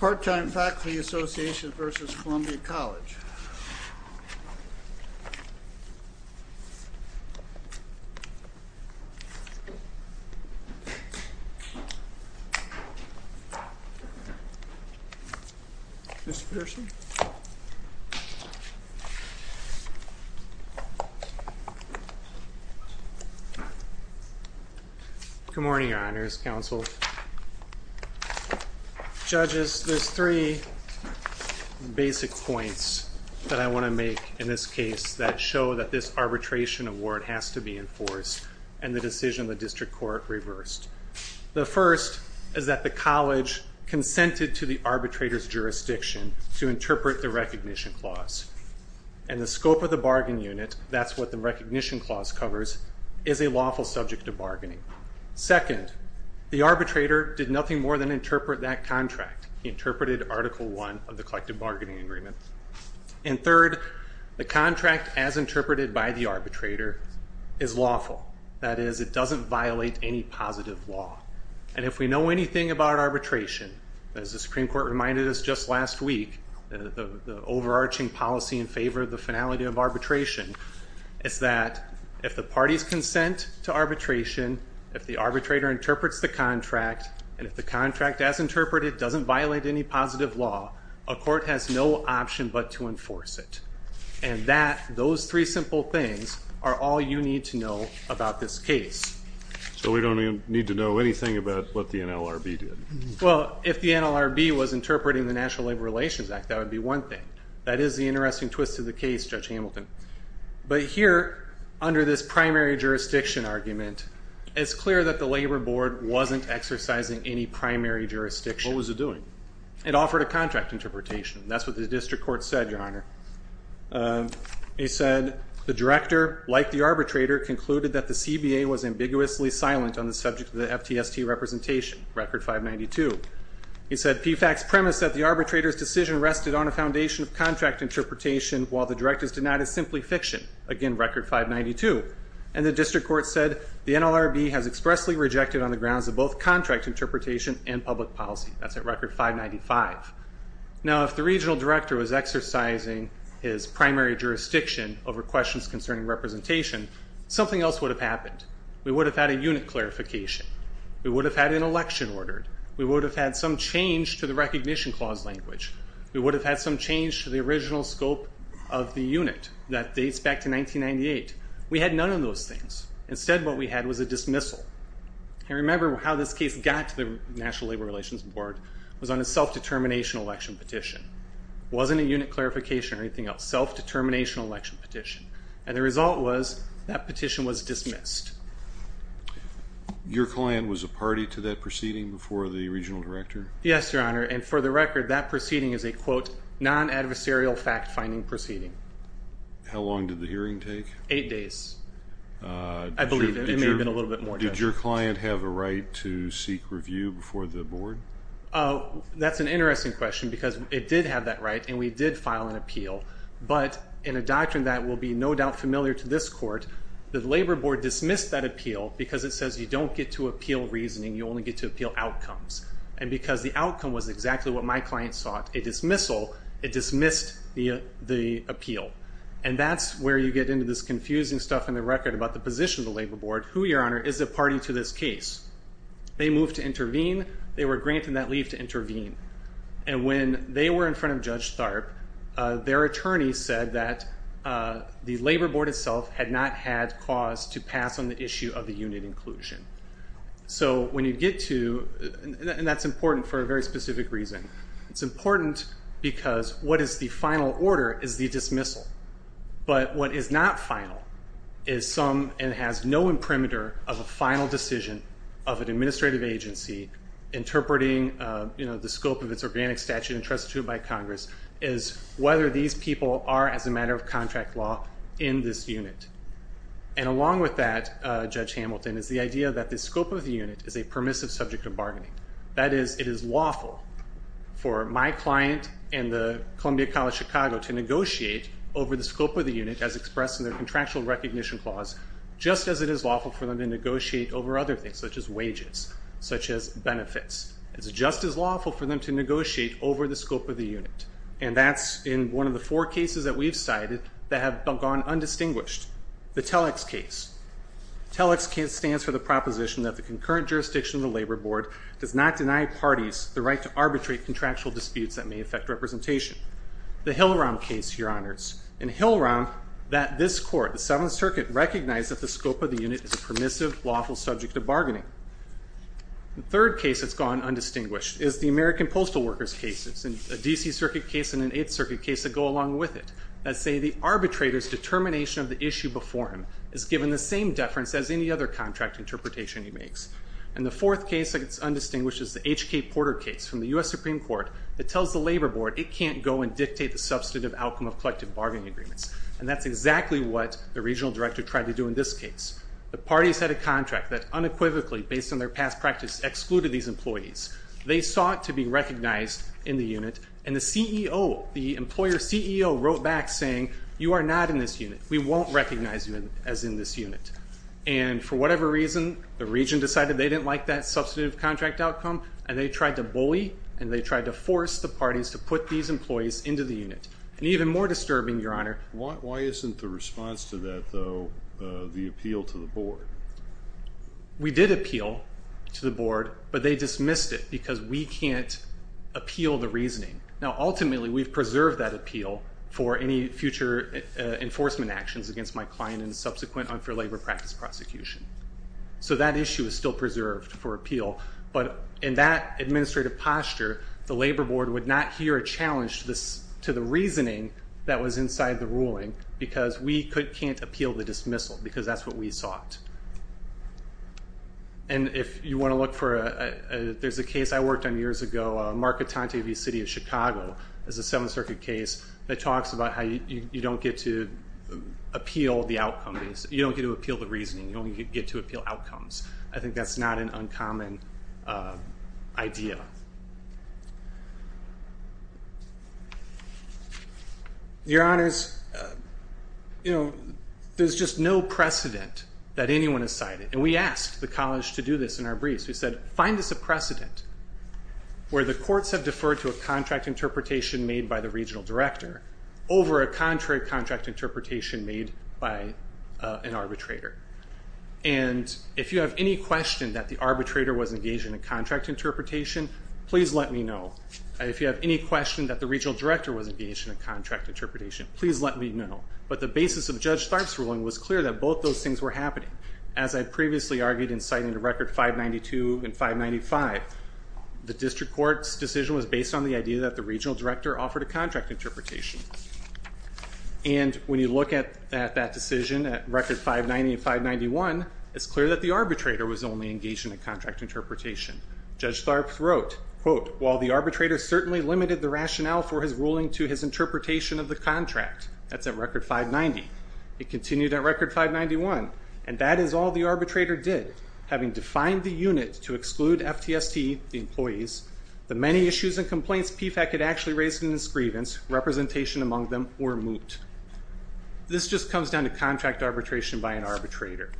Part-time Faculty Association v. Columbia College Good morning, your honors, counsel, judges. There's three basic points that I want to make in this case that show that this arbitration award has to be enforced and the decision the district court reversed. The first is that the college consented to the arbitrator's jurisdiction to interpret the recognition clause and the scope of the bargain unit, that's what the recognition clause covers, is a lawful subject of bargaining. Second, the arbitrator did nothing more than interpret that contract. He interpreted Article 1 of the collective bargaining agreement. And third, the contract as interpreted by the arbitrator is lawful. That is, it doesn't violate any positive law. And if we know anything about arbitration, as the Supreme Court reminded us just last week, the overarching policy in favor of the finality of arbitration, is that if the arbitration, if the arbitrator interprets the contract, and if the contract as interpreted doesn't violate any positive law, a court has no option but to enforce it. And that, those three simple things, are all you need to know about this case. So we don't even need to know anything about what the NLRB did? Well, if the NLRB was interpreting the National Labor Relations Act, that would be one thing. That is the interesting twist of the case, Judge Hamilton. But here, under this primary jurisdiction argument, it's clear that the Labor Board wasn't exercising any primary jurisdiction. What was it doing? It offered a contract interpretation. That's what the district court said, Your Honor. It said, the director, like the arbitrator, concluded that the CBA was ambiguously silent on the subject of the FTST representation, Record 592. It said PFAC's premise that the arbitrator's decision rested on a foundation of contract interpretation, while the director's did not, is simply fiction. Again, Record 592. And the district court said, the NLRB has expressly rejected on the grounds of both contract interpretation and public policy. That's at Record 595. Now, if the regional director was exercising his primary jurisdiction over questions concerning representation, something else would have happened. We would have had a unit clarification. We would have had an election ordered. We would have had some change to the Recognition Clause language. We would have had some change to the original scope of the unit that dates back to 1998. We had none of those things. Instead, what we had was a dismissal. And remember how this case got to the National Labor Relations Board, was on a self-determination election petition. Wasn't a unit clarification or anything else. Self-determination election petition. And the result was, that petition was dismissed. Your client was a party to that proceeding before the regional director? Yes, Your Honor, and for the record, that proceeding is a, quote, non-adversarial fact-finding proceeding. How long did the hearing take? Eight days. I believe it may have been a little bit more. Did your client have a right to seek review before the board? That's an interesting question, because it did have that right, and we did file an appeal. But in a doctrine that will be no doubt familiar to this court, the Labor Board dismissed that appeal because it says you don't get to appeal reasoning, you can't appeal reasoning, because the outcome was exactly what my client sought. A dismissal. It dismissed the appeal. And that's where you get into this confusing stuff in the record about the position of the Labor Board. Who, Your Honor, is a party to this case? They moved to intervene. They were granted that leave to intervene. And when they were in front of Judge Tharp, their attorney said that the Labor Board itself had not had cause to pass on the issue of the unit inclusion. So when you get to, and that's important for a very specific reason, it's important because what is the final order is the dismissal. But what is not final is some, and has no imprimatur of a final decision of an administrative agency interpreting the scope of its organic statute entrusted to it by Congress, is whether these people are, as a matter of contract law, in this unit. And along with that, Judge Hamilton, is the idea that the scope of the unit is a permissive subject of bargaining. That is, it is lawful for my client and the Columbia College Chicago to negotiate over the scope of the unit as expressed in their contractual recognition clause, just as it is lawful for them to negotiate over other things, such as wages, such as benefits. It's just as lawful for them to negotiate over the scope of the unit. And that's in one of four cases that we've cited that have gone undistinguished. The Telex case. Telex case stands for the proposition that the concurrent jurisdiction of the Labor Board does not deny parties the right to arbitrate contractual disputes that may affect representation. The Hillaram case, Your Honors. In Hillaram, that this court, the Seventh Circuit, recognized that the scope of the unit is a permissive, lawful subject of bargaining. The third case that's gone undistinguished is the American Postal Workers case. It's a DC Circuit case and an Eighth Circuit case that go along with it, that say the arbitrator's determination of the issue before him is given the same deference as any other contract interpretation he makes. And the fourth case that gets undistinguished is the HK Porter case from the US Supreme Court that tells the Labor Board it can't go and dictate the substantive outcome of collective bargaining agreements. And that's exactly what the regional director tried to do in this case. The parties had a contract that unequivocally, based on their past practice, excluded these employees. They saw it to be recognized in the unit and the CEO, the employer CEO, wrote back saying, you are not in this unit. We won't recognize you as in this unit. And for whatever reason, the region decided they didn't like that substantive contract outcome and they tried to bully and they tried to force the parties to put these employees into the unit. And even more disturbing, Your Honor... Why isn't the response to that, though, the appeal to the board? We did appeal to the board but they dismissed it because we can't appeal the reasoning. Now ultimately we've preserved that appeal for any future enforcement actions against my client and subsequent unfair labor practice prosecution. So that issue is still preserved for appeal, but in that administrative posture, the Labor Board would not hear a challenge to the reasoning that was inside the ruling because we can't appeal the dismissal because that's what we sought. And if you want to look for... there's a case a few years ago, Marc Atante v. City of Chicago, there's a Seventh Circuit case that talks about how you don't get to appeal the outcome. You don't get to appeal the reasoning. You don't get to appeal outcomes. I think that's not an uncommon idea. Your Honors, you know, there's just no precedent that anyone has cited. And we the courts have deferred to a contract interpretation made by the regional director over a contrary contract interpretation made by an arbitrator. And if you have any question that the arbitrator was engaged in a contract interpretation, please let me know. If you have any question that the regional director was engaged in a contract interpretation, please let me know. But the basis of Judge Tharpe's ruling was clear that both those things were happening. As I previously argued in citing the record 592 and 595, the district court's decision was based on the idea that the regional director offered a contract interpretation. And when you look at that decision at record 590 and 591, it's clear that the arbitrator was only engaged in a contract interpretation. Judge Tharpe wrote, quote, while the arbitrator certainly limited the rationale for his ruling to his interpretation of the contract, that's at record 590, it continued at record 591. And that is all the arbitrator did. Having defined the unit to exclude FTST, the employees, the many issues and complaints PFAC had actually raised in its grievance, representation among them, were moot. This just comes down to contract arbitration by an arbitrator.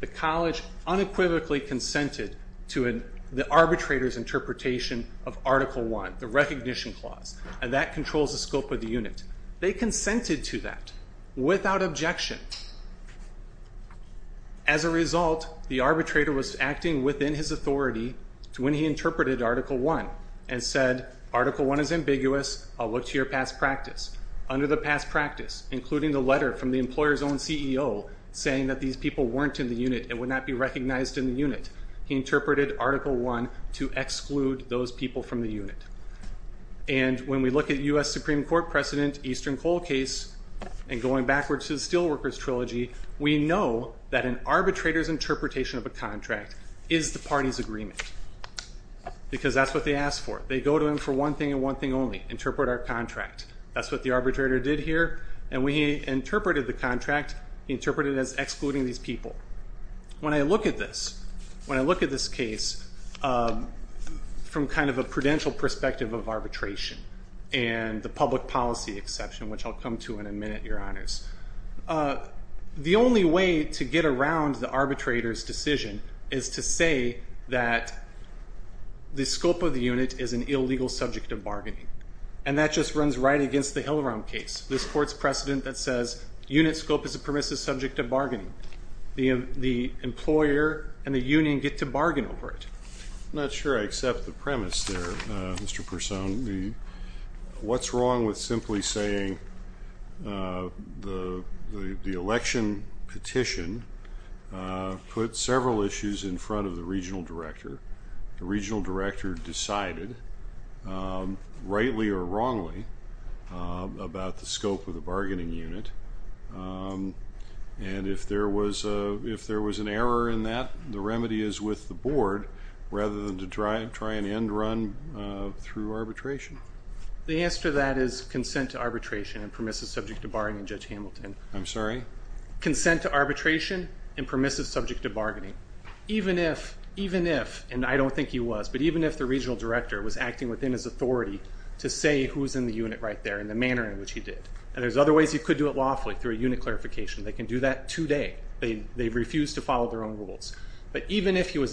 The college unequivocally consented to the arbitrator's interpretation of Article 1, the Recognition Clause, and that controls the scope of the unit. They consented to that without objection. As a result, the arbitrator was acting within his authority to when he interpreted Article 1 and said, Article 1 is ambiguous. I'll look to your past practice. Under the past practice, including the letter from the employer's own CEO saying that these people weren't in the unit and would not be recognized in the unit, he interpreted Article 1 to exclude those people from the unit. And when we look at U.S. Supreme Court precedent Eastern Coal case and going backwards to the Steelworkers Trilogy, we know that an arbitrator's interpretation of a contract is the party's agreement because that's what they asked for. They go to him for one thing and one thing only, interpret our contract. That's what the arbitrator did here and when he interpreted the contract, he interpreted it as excluding these people. When I look at this, when I look at this case from kind of a prudential perspective of arbitration and the public policy exception, which I'll come to in a minute, your honors, the only way to get around the arbitrator's decision is to say that the scope of the unit is an illegal subject of bargaining. And that just runs right against the Hillaram case. This court's precedent that says unit scope is a permissive subject of bargaining. The employer and the union get to bargain over it. I'm not sure I accept the premise there, Mr. Persone. What's wrong with simply saying the election petition put several issues in front of the regional director. The regional director decided, rightly or wrongly, about the scope of the bargaining unit and if there was an error in that, the remedy is with the board rather than to try and end the run through arbitration. The answer to that is consent to arbitration and permissive subject to bargaining, Judge Hamilton. I'm sorry? Consent to arbitration and permissive subject to bargaining. Even if, and I don't think he was, but even if the regional director was acting within his authority to say who's in the unit right there in the manner in which he did. And there's other ways he could do it lawfully through a unit clarification. They can do that today. They've refused to follow their own rules. But even if he was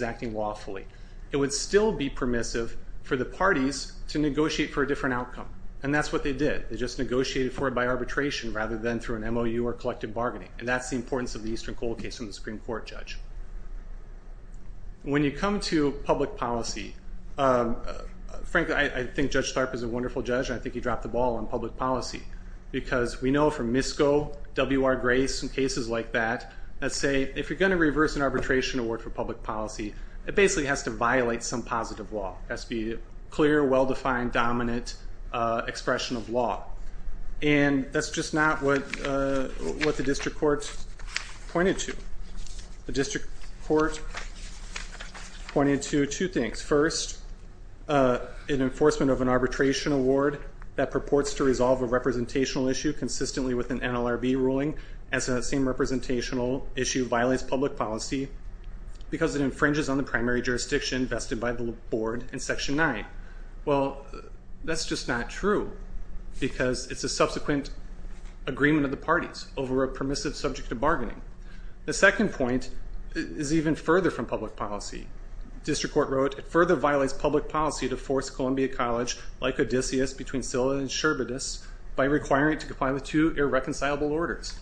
permissive for the parties to negotiate for a different outcome. And that's what they did. They just negotiated for it by arbitration rather than through an MOU or collective bargaining. And that's the importance of the Eastern Coal case in the Supreme Court, Judge. When you come to public policy, frankly I think Judge Tharp is a wonderful judge. I think he dropped the ball on public policy because we know from MISCO, WR Grace, and cases like that, that say if you're going to reverse an arbitration award for public policy, it basically has to be clear, well-defined, dominant expression of law. And that's just not what the district court pointed to. The district court pointed to two things. First, an enforcement of an arbitration award that purports to resolve a representational issue consistently with an NLRB ruling as that same representational issue violates public policy because it infringes on the in Section 9. Well, that's just not true because it's a subsequent agreement of the parties over a permissive subject to bargaining. The second point is even further from public policy. District Court wrote, it further violates public policy to force Columbia College, like Odysseus, between Sylla and Sherbetus by requiring it to comply with two irreconcilable orders.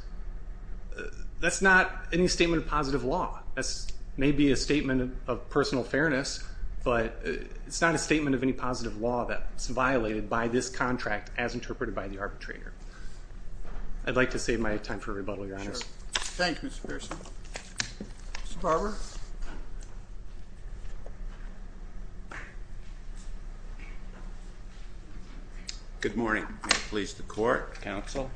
That's not any statement of positive law. That may be a statement of personal fairness, but it's not a statement of any positive law that's violated by this contract as interpreted by the arbitrator. I'd like to save my time for rebuttal, Your Honor. Thank you, Mr. Pearson. Mr. Barber? Good morning. Please, the court, counsel.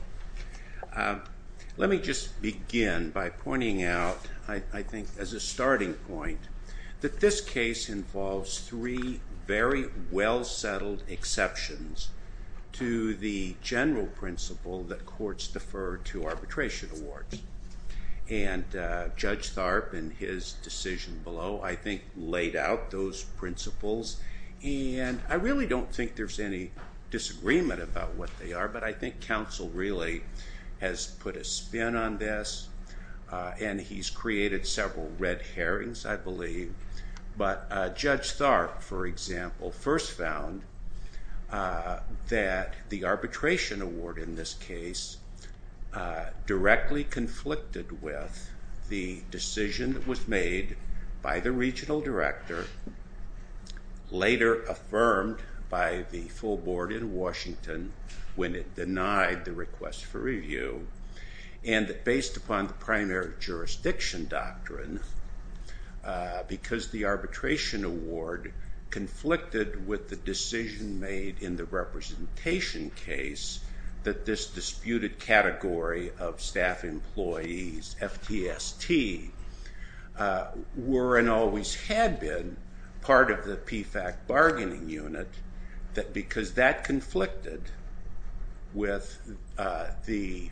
Let me just begin by pointing out, I think, as a starting point that this case involves three very well-settled exceptions to the general principle that courts defer to arbitration awards. And Judge Tharp, in his decision below, I think laid out those principles. And I really don't think there's any disagreement about what they are, but I think counsel really has put a spin on this, and he's created several red herrings, I believe. But Judge Tharp, for example, first found that the arbitration award in this case directly conflicted with the decision that was made by the regional director, later affirmed by the full board in Washington when it denied the request for review, and that based upon the primary jurisdiction doctrine, because the arbitration award conflicted with the decision made in the that this disputed category of staff employees, FTST, were and always had been part of the PFAC bargaining unit, that because that conflicted with the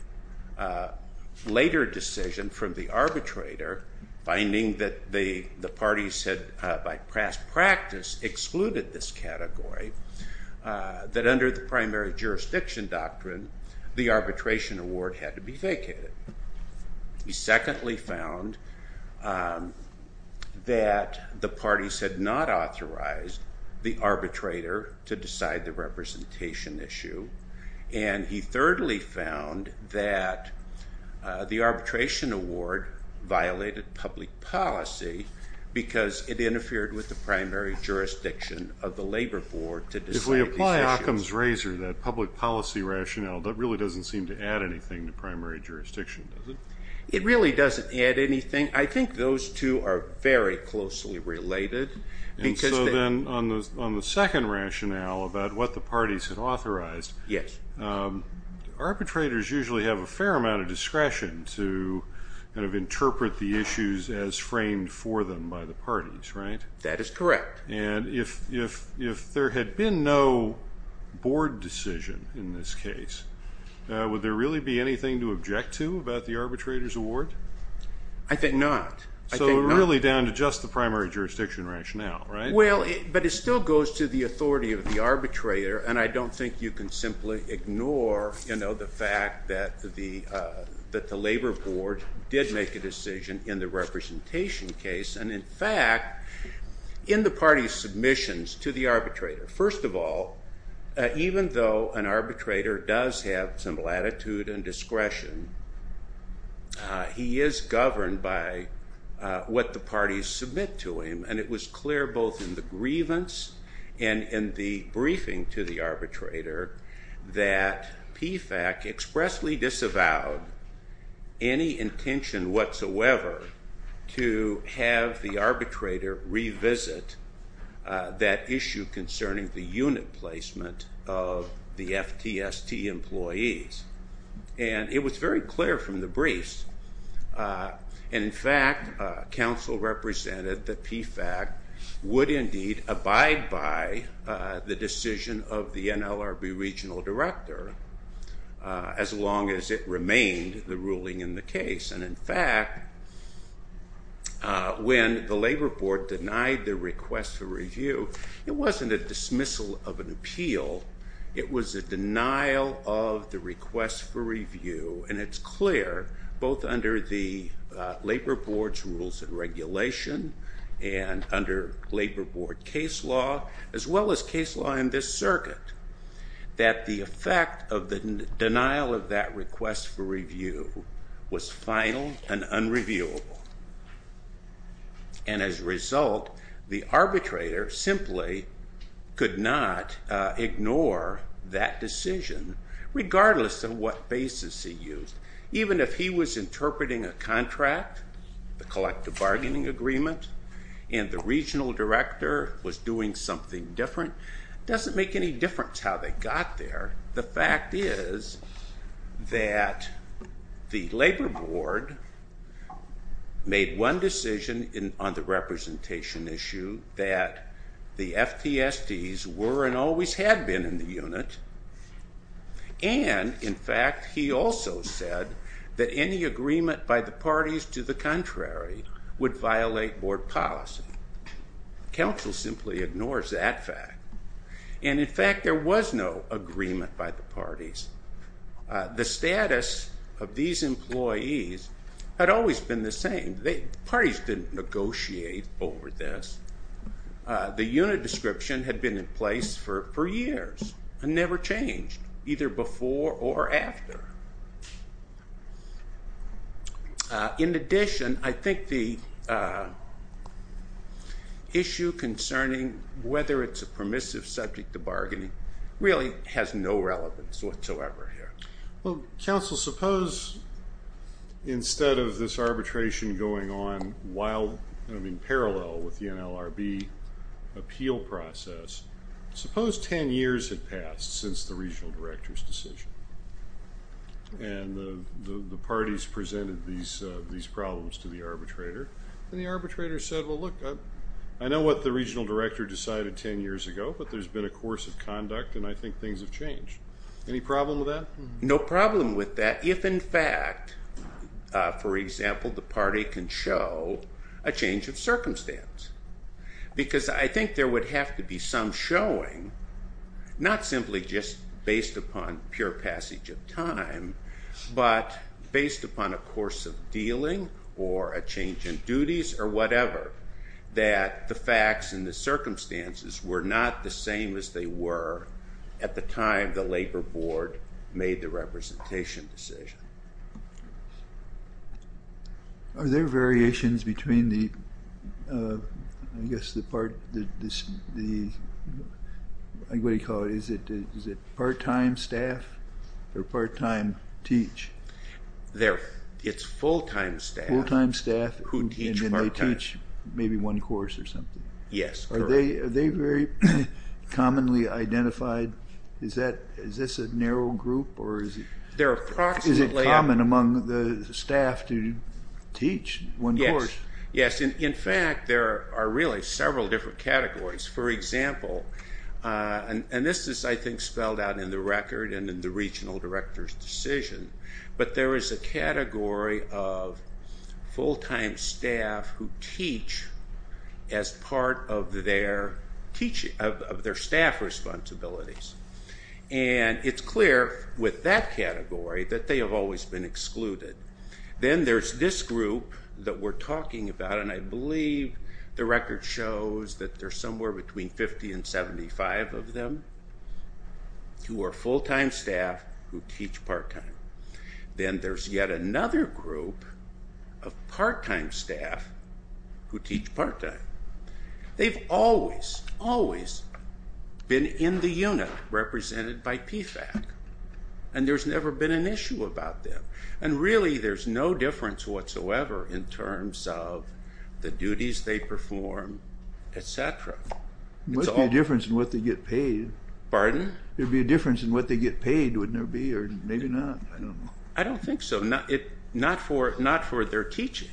later decision from the arbitrator, finding that the parties had, by past practice, excluded this category, that under the primary jurisdiction doctrine, the arbitration award had to be vacated. He secondly found that the parties had not authorized the arbitrator to decide the representation issue, and he thirdly found that the arbitration award violated public policy because it didn't allow the jurisdiction of the labor board to decide these issues. If we apply Occam's razor, that public policy rationale, that really doesn't seem to add anything to primary jurisdiction, does it? It really doesn't add anything. I think those two are very closely related. And so then on the second rationale about what the parties had authorized, Yes. arbitrators usually have a fair amount of discretion to kind of interpret the issues as framed for them by the parties, right? That is correct. And if there had been no board decision in this case, would there really be anything to object to about the arbitrator's award? I think not. I think not. So really down to just the primary jurisdiction rationale, right? Well, but it still goes to the authority of the arbitrator, and I don't think you can simply ignore the fact that the labor board did make a decision in the party's submissions to the arbitrator. First of all, even though an arbitrator does have some latitude and discretion, he is governed by what the parties submit to him. And it was clear both in the grievance and in the briefing to the arbitrator that PFAC expressly disavowed any intention whatsoever to have the parties revisit that issue concerning the unit placement of the FTST employees. And it was very clear from the briefs. In fact, counsel represented that PFAC would indeed abide by the decision of the NLRB regional director as long as it remained the ruling in the case. And in fact, when the labor board denied the request for review, it wasn't a dismissal of an appeal. It was a denial of the request for review. And it's clear, both under the labor board's rules and regulation and under labor board case law, as well as case law in this circuit, that the effect of And as a result, the arbitrator simply could not ignore that decision, regardless of what basis he used. Even if he was interpreting a contract, the collective bargaining agreement, and the regional director was doing something different, it doesn't make any difference how they got there. The fact is that the labor board made one decision on the representation issue that the FTSTs were and always had been in the unit. And, in fact, he also said that any agreement by the parties to the contrary would violate board policy. Counsel simply ignores that fact. And, in fact, there was no agreement by the parties. The status of these employees had always been the same. The parties didn't negotiate over this. The unit description had been in place for years and never changed, either before or after. In addition, I think the issue concerning whether it's a permissive subject to bargaining really has no relevance whatsoever here. Well, counsel, suppose instead of this arbitration going on while, I mean parallel with the NLRB appeal process, suppose 10 years had passed since the regional director's decision and the parties presented these problems to the arbitrator. And the arbitrator said, well, look, I know what the regional director decided 10 years ago, but there's been a course of conduct and I think things have changed. Any problem with that? No problem with that if, in fact, for example, the party can show a change of circumstance because I think there would have to be some showing, not simply just based upon pure passage of time, but based upon a course of dealing or a change in duties or whatever, that the facts and the circumstances were not the same as they were at the time the labor board made the representation decision. Are there variations between the, I guess, the part, what do you call it, is it part-time staff or part-time teach? It's full-time staff. Full-time staff. Who teach part-time. And then they teach maybe one course or something. Yes. Are they very commonly identified? Is this a narrow group or is it? Is it common among the staff to teach one course? Yes. In fact, there are really several different categories. For example, and this is, I think, spelled out in the record and in the regional director's decision, but there is a category of full-time staff who teach as part of their staff responsibilities. And it's clear with that category that they have always been excluded. Then there's this group that we're talking about, and I believe the record shows that there's somewhere between 50 and 75 of them who are full-time staff who teach part-time. Then there's yet another group of part-time staff who teach part-time. They've always, always been in the unit represented by PFAC, and there's never been an issue about them. And really there's no difference whatsoever in terms of the duties they perform, et cetera. There must be a difference in what they get paid. Pardon? There'd be a difference in what they get paid, wouldn't there be, or maybe not? I don't know. I don't think so. Not for their teaching.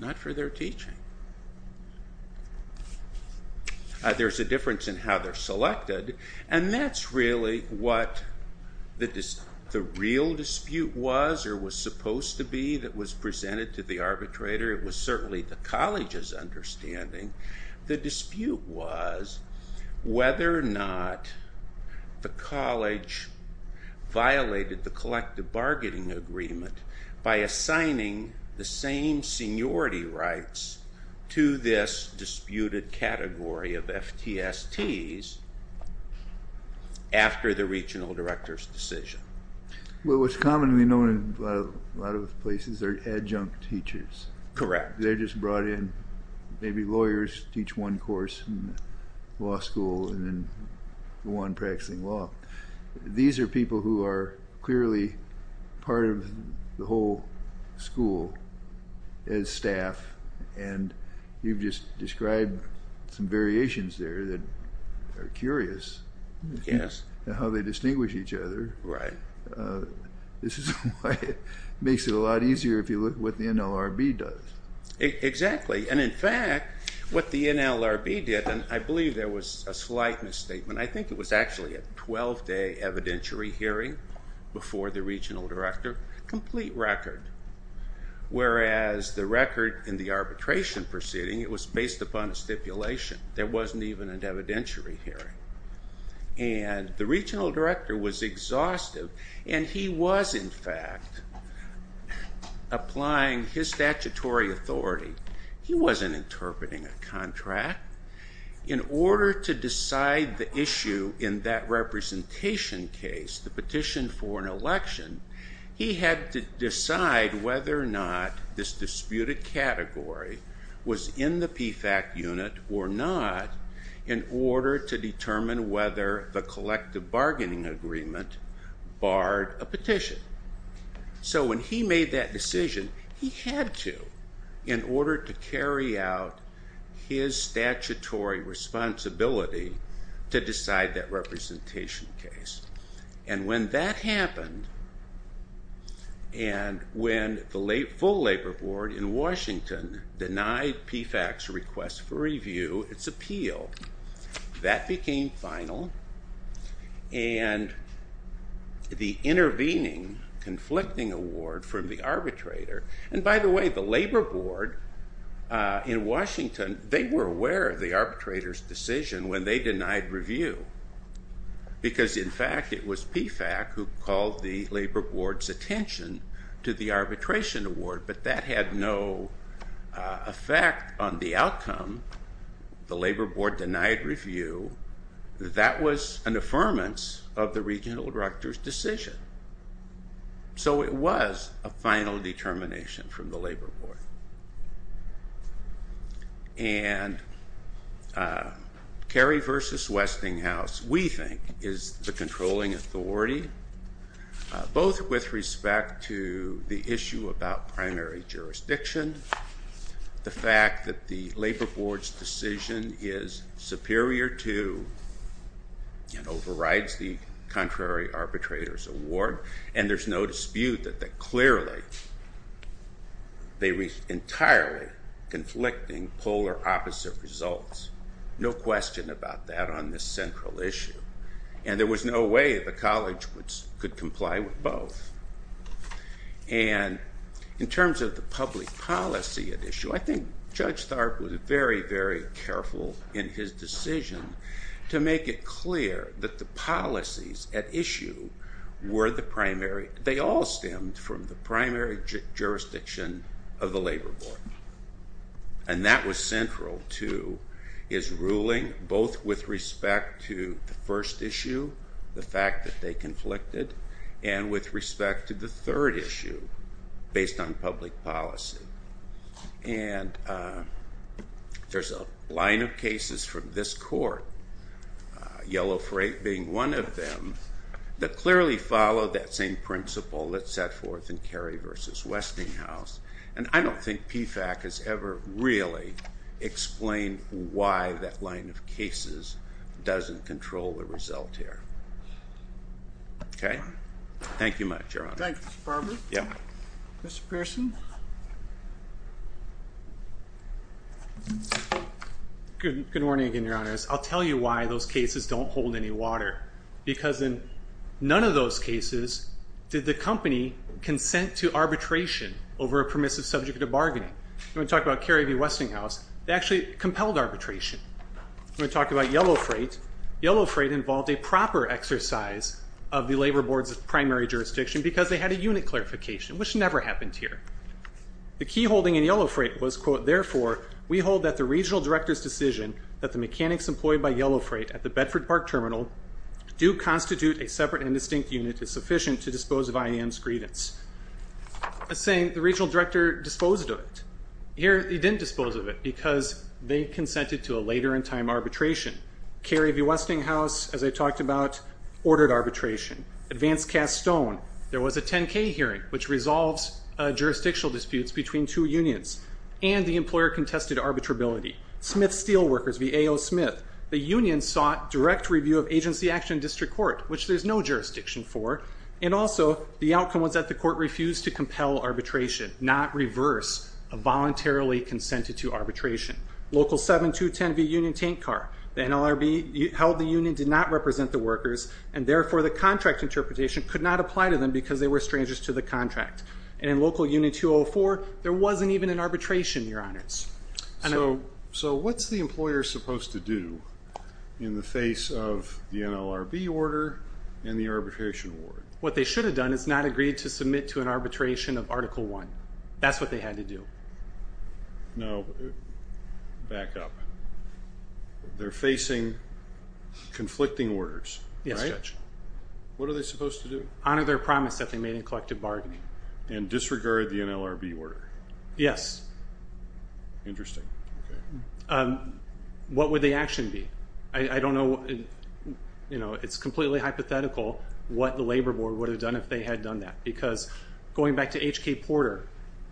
Not for their teaching. There's a difference in how they're selected, and that's really what the real dispute was or was supposed to be that was presented to the arbitrator. It was certainly the college's understanding. The dispute was whether or not the college violated the collective bargaining agreement by assigning the same seniority rights to this disputed category of FTSTs after the regional director's decision. Well, what's commonly known in a lot of places are adjunct teachers. Correct. They're just brought in, maybe lawyers teach one course in law school and then go on practicing law. These are people who are clearly part of the whole school as staff, and you've just described some variations there that are curious. Yes. How they distinguish each other. Right. This is why it makes it a lot easier if you look at what the NLRB does. Exactly, and in fact, what the NLRB did, and I believe there was a slight misstatement. I think it was actually a 12-day evidentiary hearing before the regional director, complete record. Whereas the record in the arbitration proceeding, it was based upon a stipulation. There wasn't even an evidentiary hearing, and the regional director was exhaustive, and he was, in fact, applying his statutory authority. He wasn't interpreting a contract. In order to decide the issue in that representation case, the petition for an election, he had to decide whether or not this disputed category was in the PFAC unit or not in order to determine whether the collective bargaining agreement barred a petition. So when he made that decision, he had to in order to carry out his statutory responsibility to decide that representation case. And when that happened, and when the full labor board in Washington denied PFAC's request for review its appeal, that became final, and the intervening conflicting award from the arbitrator. And by the way, the labor board in Washington, they were aware of the arbitrator's decision when they denied review, because, in fact, it was PFAC who called the labor board's attention to the arbitration award, but that had no effect on the outcome. The labor board denied review. That was an affirmance of the regional director's decision. So it was a final determination from the labor board. And Cary versus Westinghouse, we think, is the controlling authority, both with respect to the issue about primary jurisdiction, the fact that the labor board's decision is superior to and overrides the contrary arbitrator's award. And there's no dispute that clearly they reached entirely conflicting polar opposite results. No question about that on this central issue. And there was no way the college could comply with both. And in terms of the public policy at issue, I think Judge Tharp was very, very careful in his decision to make it clear that the policies at issue were the primary, they all stemmed from the primary jurisdiction of the labor board. And that was central to his ruling, both with respect to the first issue, the fact that they conflicted, and with respect to the third issue based on public policy. And there's a line of cases from this court, Yellow Freight being one of them, that clearly followed that same principle that set forth in Cary versus Westinghouse. And I don't think PFAC has ever really explained why that line of cases doesn't control the result here. Okay? Thank you much, Your Honor. Thank you, Mr. Barber. Yeah. Mr. Pearson? Good morning again, Your Honor. I'll tell you why those cases don't hold any water. Because in none of those cases did the company consent to arbitration over a permissive subject of bargaining. When we talk about Cary v. Westinghouse, they actually compelled arbitration. When we talk about Yellow Freight, Yellow Freight involved a proper exercise of the labor board's primary jurisdiction because they had a unit clarification, which never happened here. The key holding in Yellow Freight was, quote, therefore we hold that the regional director's decision that the mechanics employed by Yellow Freight at the Bedford Park Terminal do constitute a separate and distinct unit is sufficient to dispose of IAM's grievance. The same, the regional director disposed of it. Here he didn't dispose of it because they consented to a later in time arbitration. Cary v. Westinghouse, as I talked about, ordered arbitration. Advanced Cast Stone, there was a 10-K hearing, which resolves jurisdictional disputes between two unions. And the employer contested arbitrability. Smith Steelworkers v. A.O. Smith, the union sought direct review of agency action in district court, which there's no jurisdiction for. And also the outcome was that the court refused to compel arbitration, not reverse a voluntarily consented to arbitration. Local 7210 v. Union Tank Car. The NLRB held the union did not represent the workers, and therefore the contract interpretation could not apply to them because they were strangers to the contract. And in Local Union 204, there wasn't even an arbitration, Your Honors. So what's the employer supposed to do in the face of the NLRB order and the arbitration award? What they should have done is not agreed to submit to an arbitration of Article I. That's what they had to do. Now, back up. They're facing conflicting orders, right? Yes, Judge. What are they supposed to do? Honor their promise that they made in collective bargaining. And disregard the NLRB order? Yes. Interesting. What would the action be? I don't know. You know, it's completely hypothetical what the Labor Board would have done if they had done that. Because going back to H.K. Porter,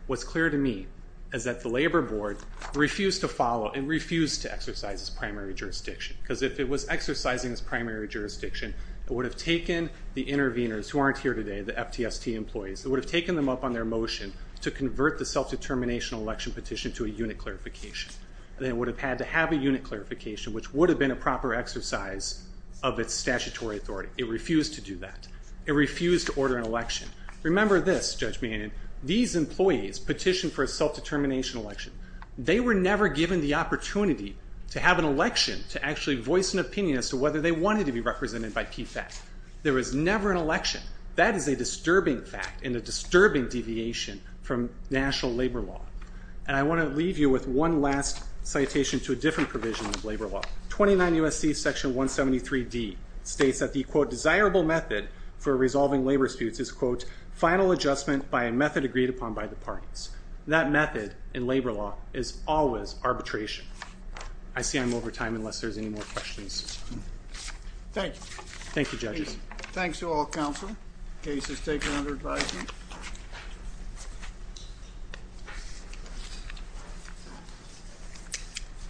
what's clear to me is that the Labor Board refused to follow and refused to exercise its primary jurisdiction. Because if it was exercising its primary jurisdiction, it would have taken the interveners who aren't here today, the FTST employees, it would have taken them up on their motion to convert the self-determination election petition to a unit clarification. They would have had to have a unit clarification, which would have been a proper exercise of its statutory authority. It refused to do that. It refused to order an election. Remember this, Judge Mannion, these employees petitioned for a self-determination election. They were never given the opportunity to have an election to actually voice an opinion as to whether they wanted to be represented by PFAT. There was never an election. That is a disturbing fact and a disturbing deviation from national labor law. And I want to leave you with one last citation to a different provision of labor law. 29 U.S.C. Section 173D states that the, quote, desirable method for resolving labor disputes is, quote, final adjustment by a method agreed upon by the parties. That method in labor law is always arbitration. I see I'm over time unless there's any more questions. Thank you. Thank you, judges. Thanks to all counsel. Case is taken under advisement.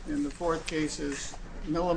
And the fourth case is Milliman v.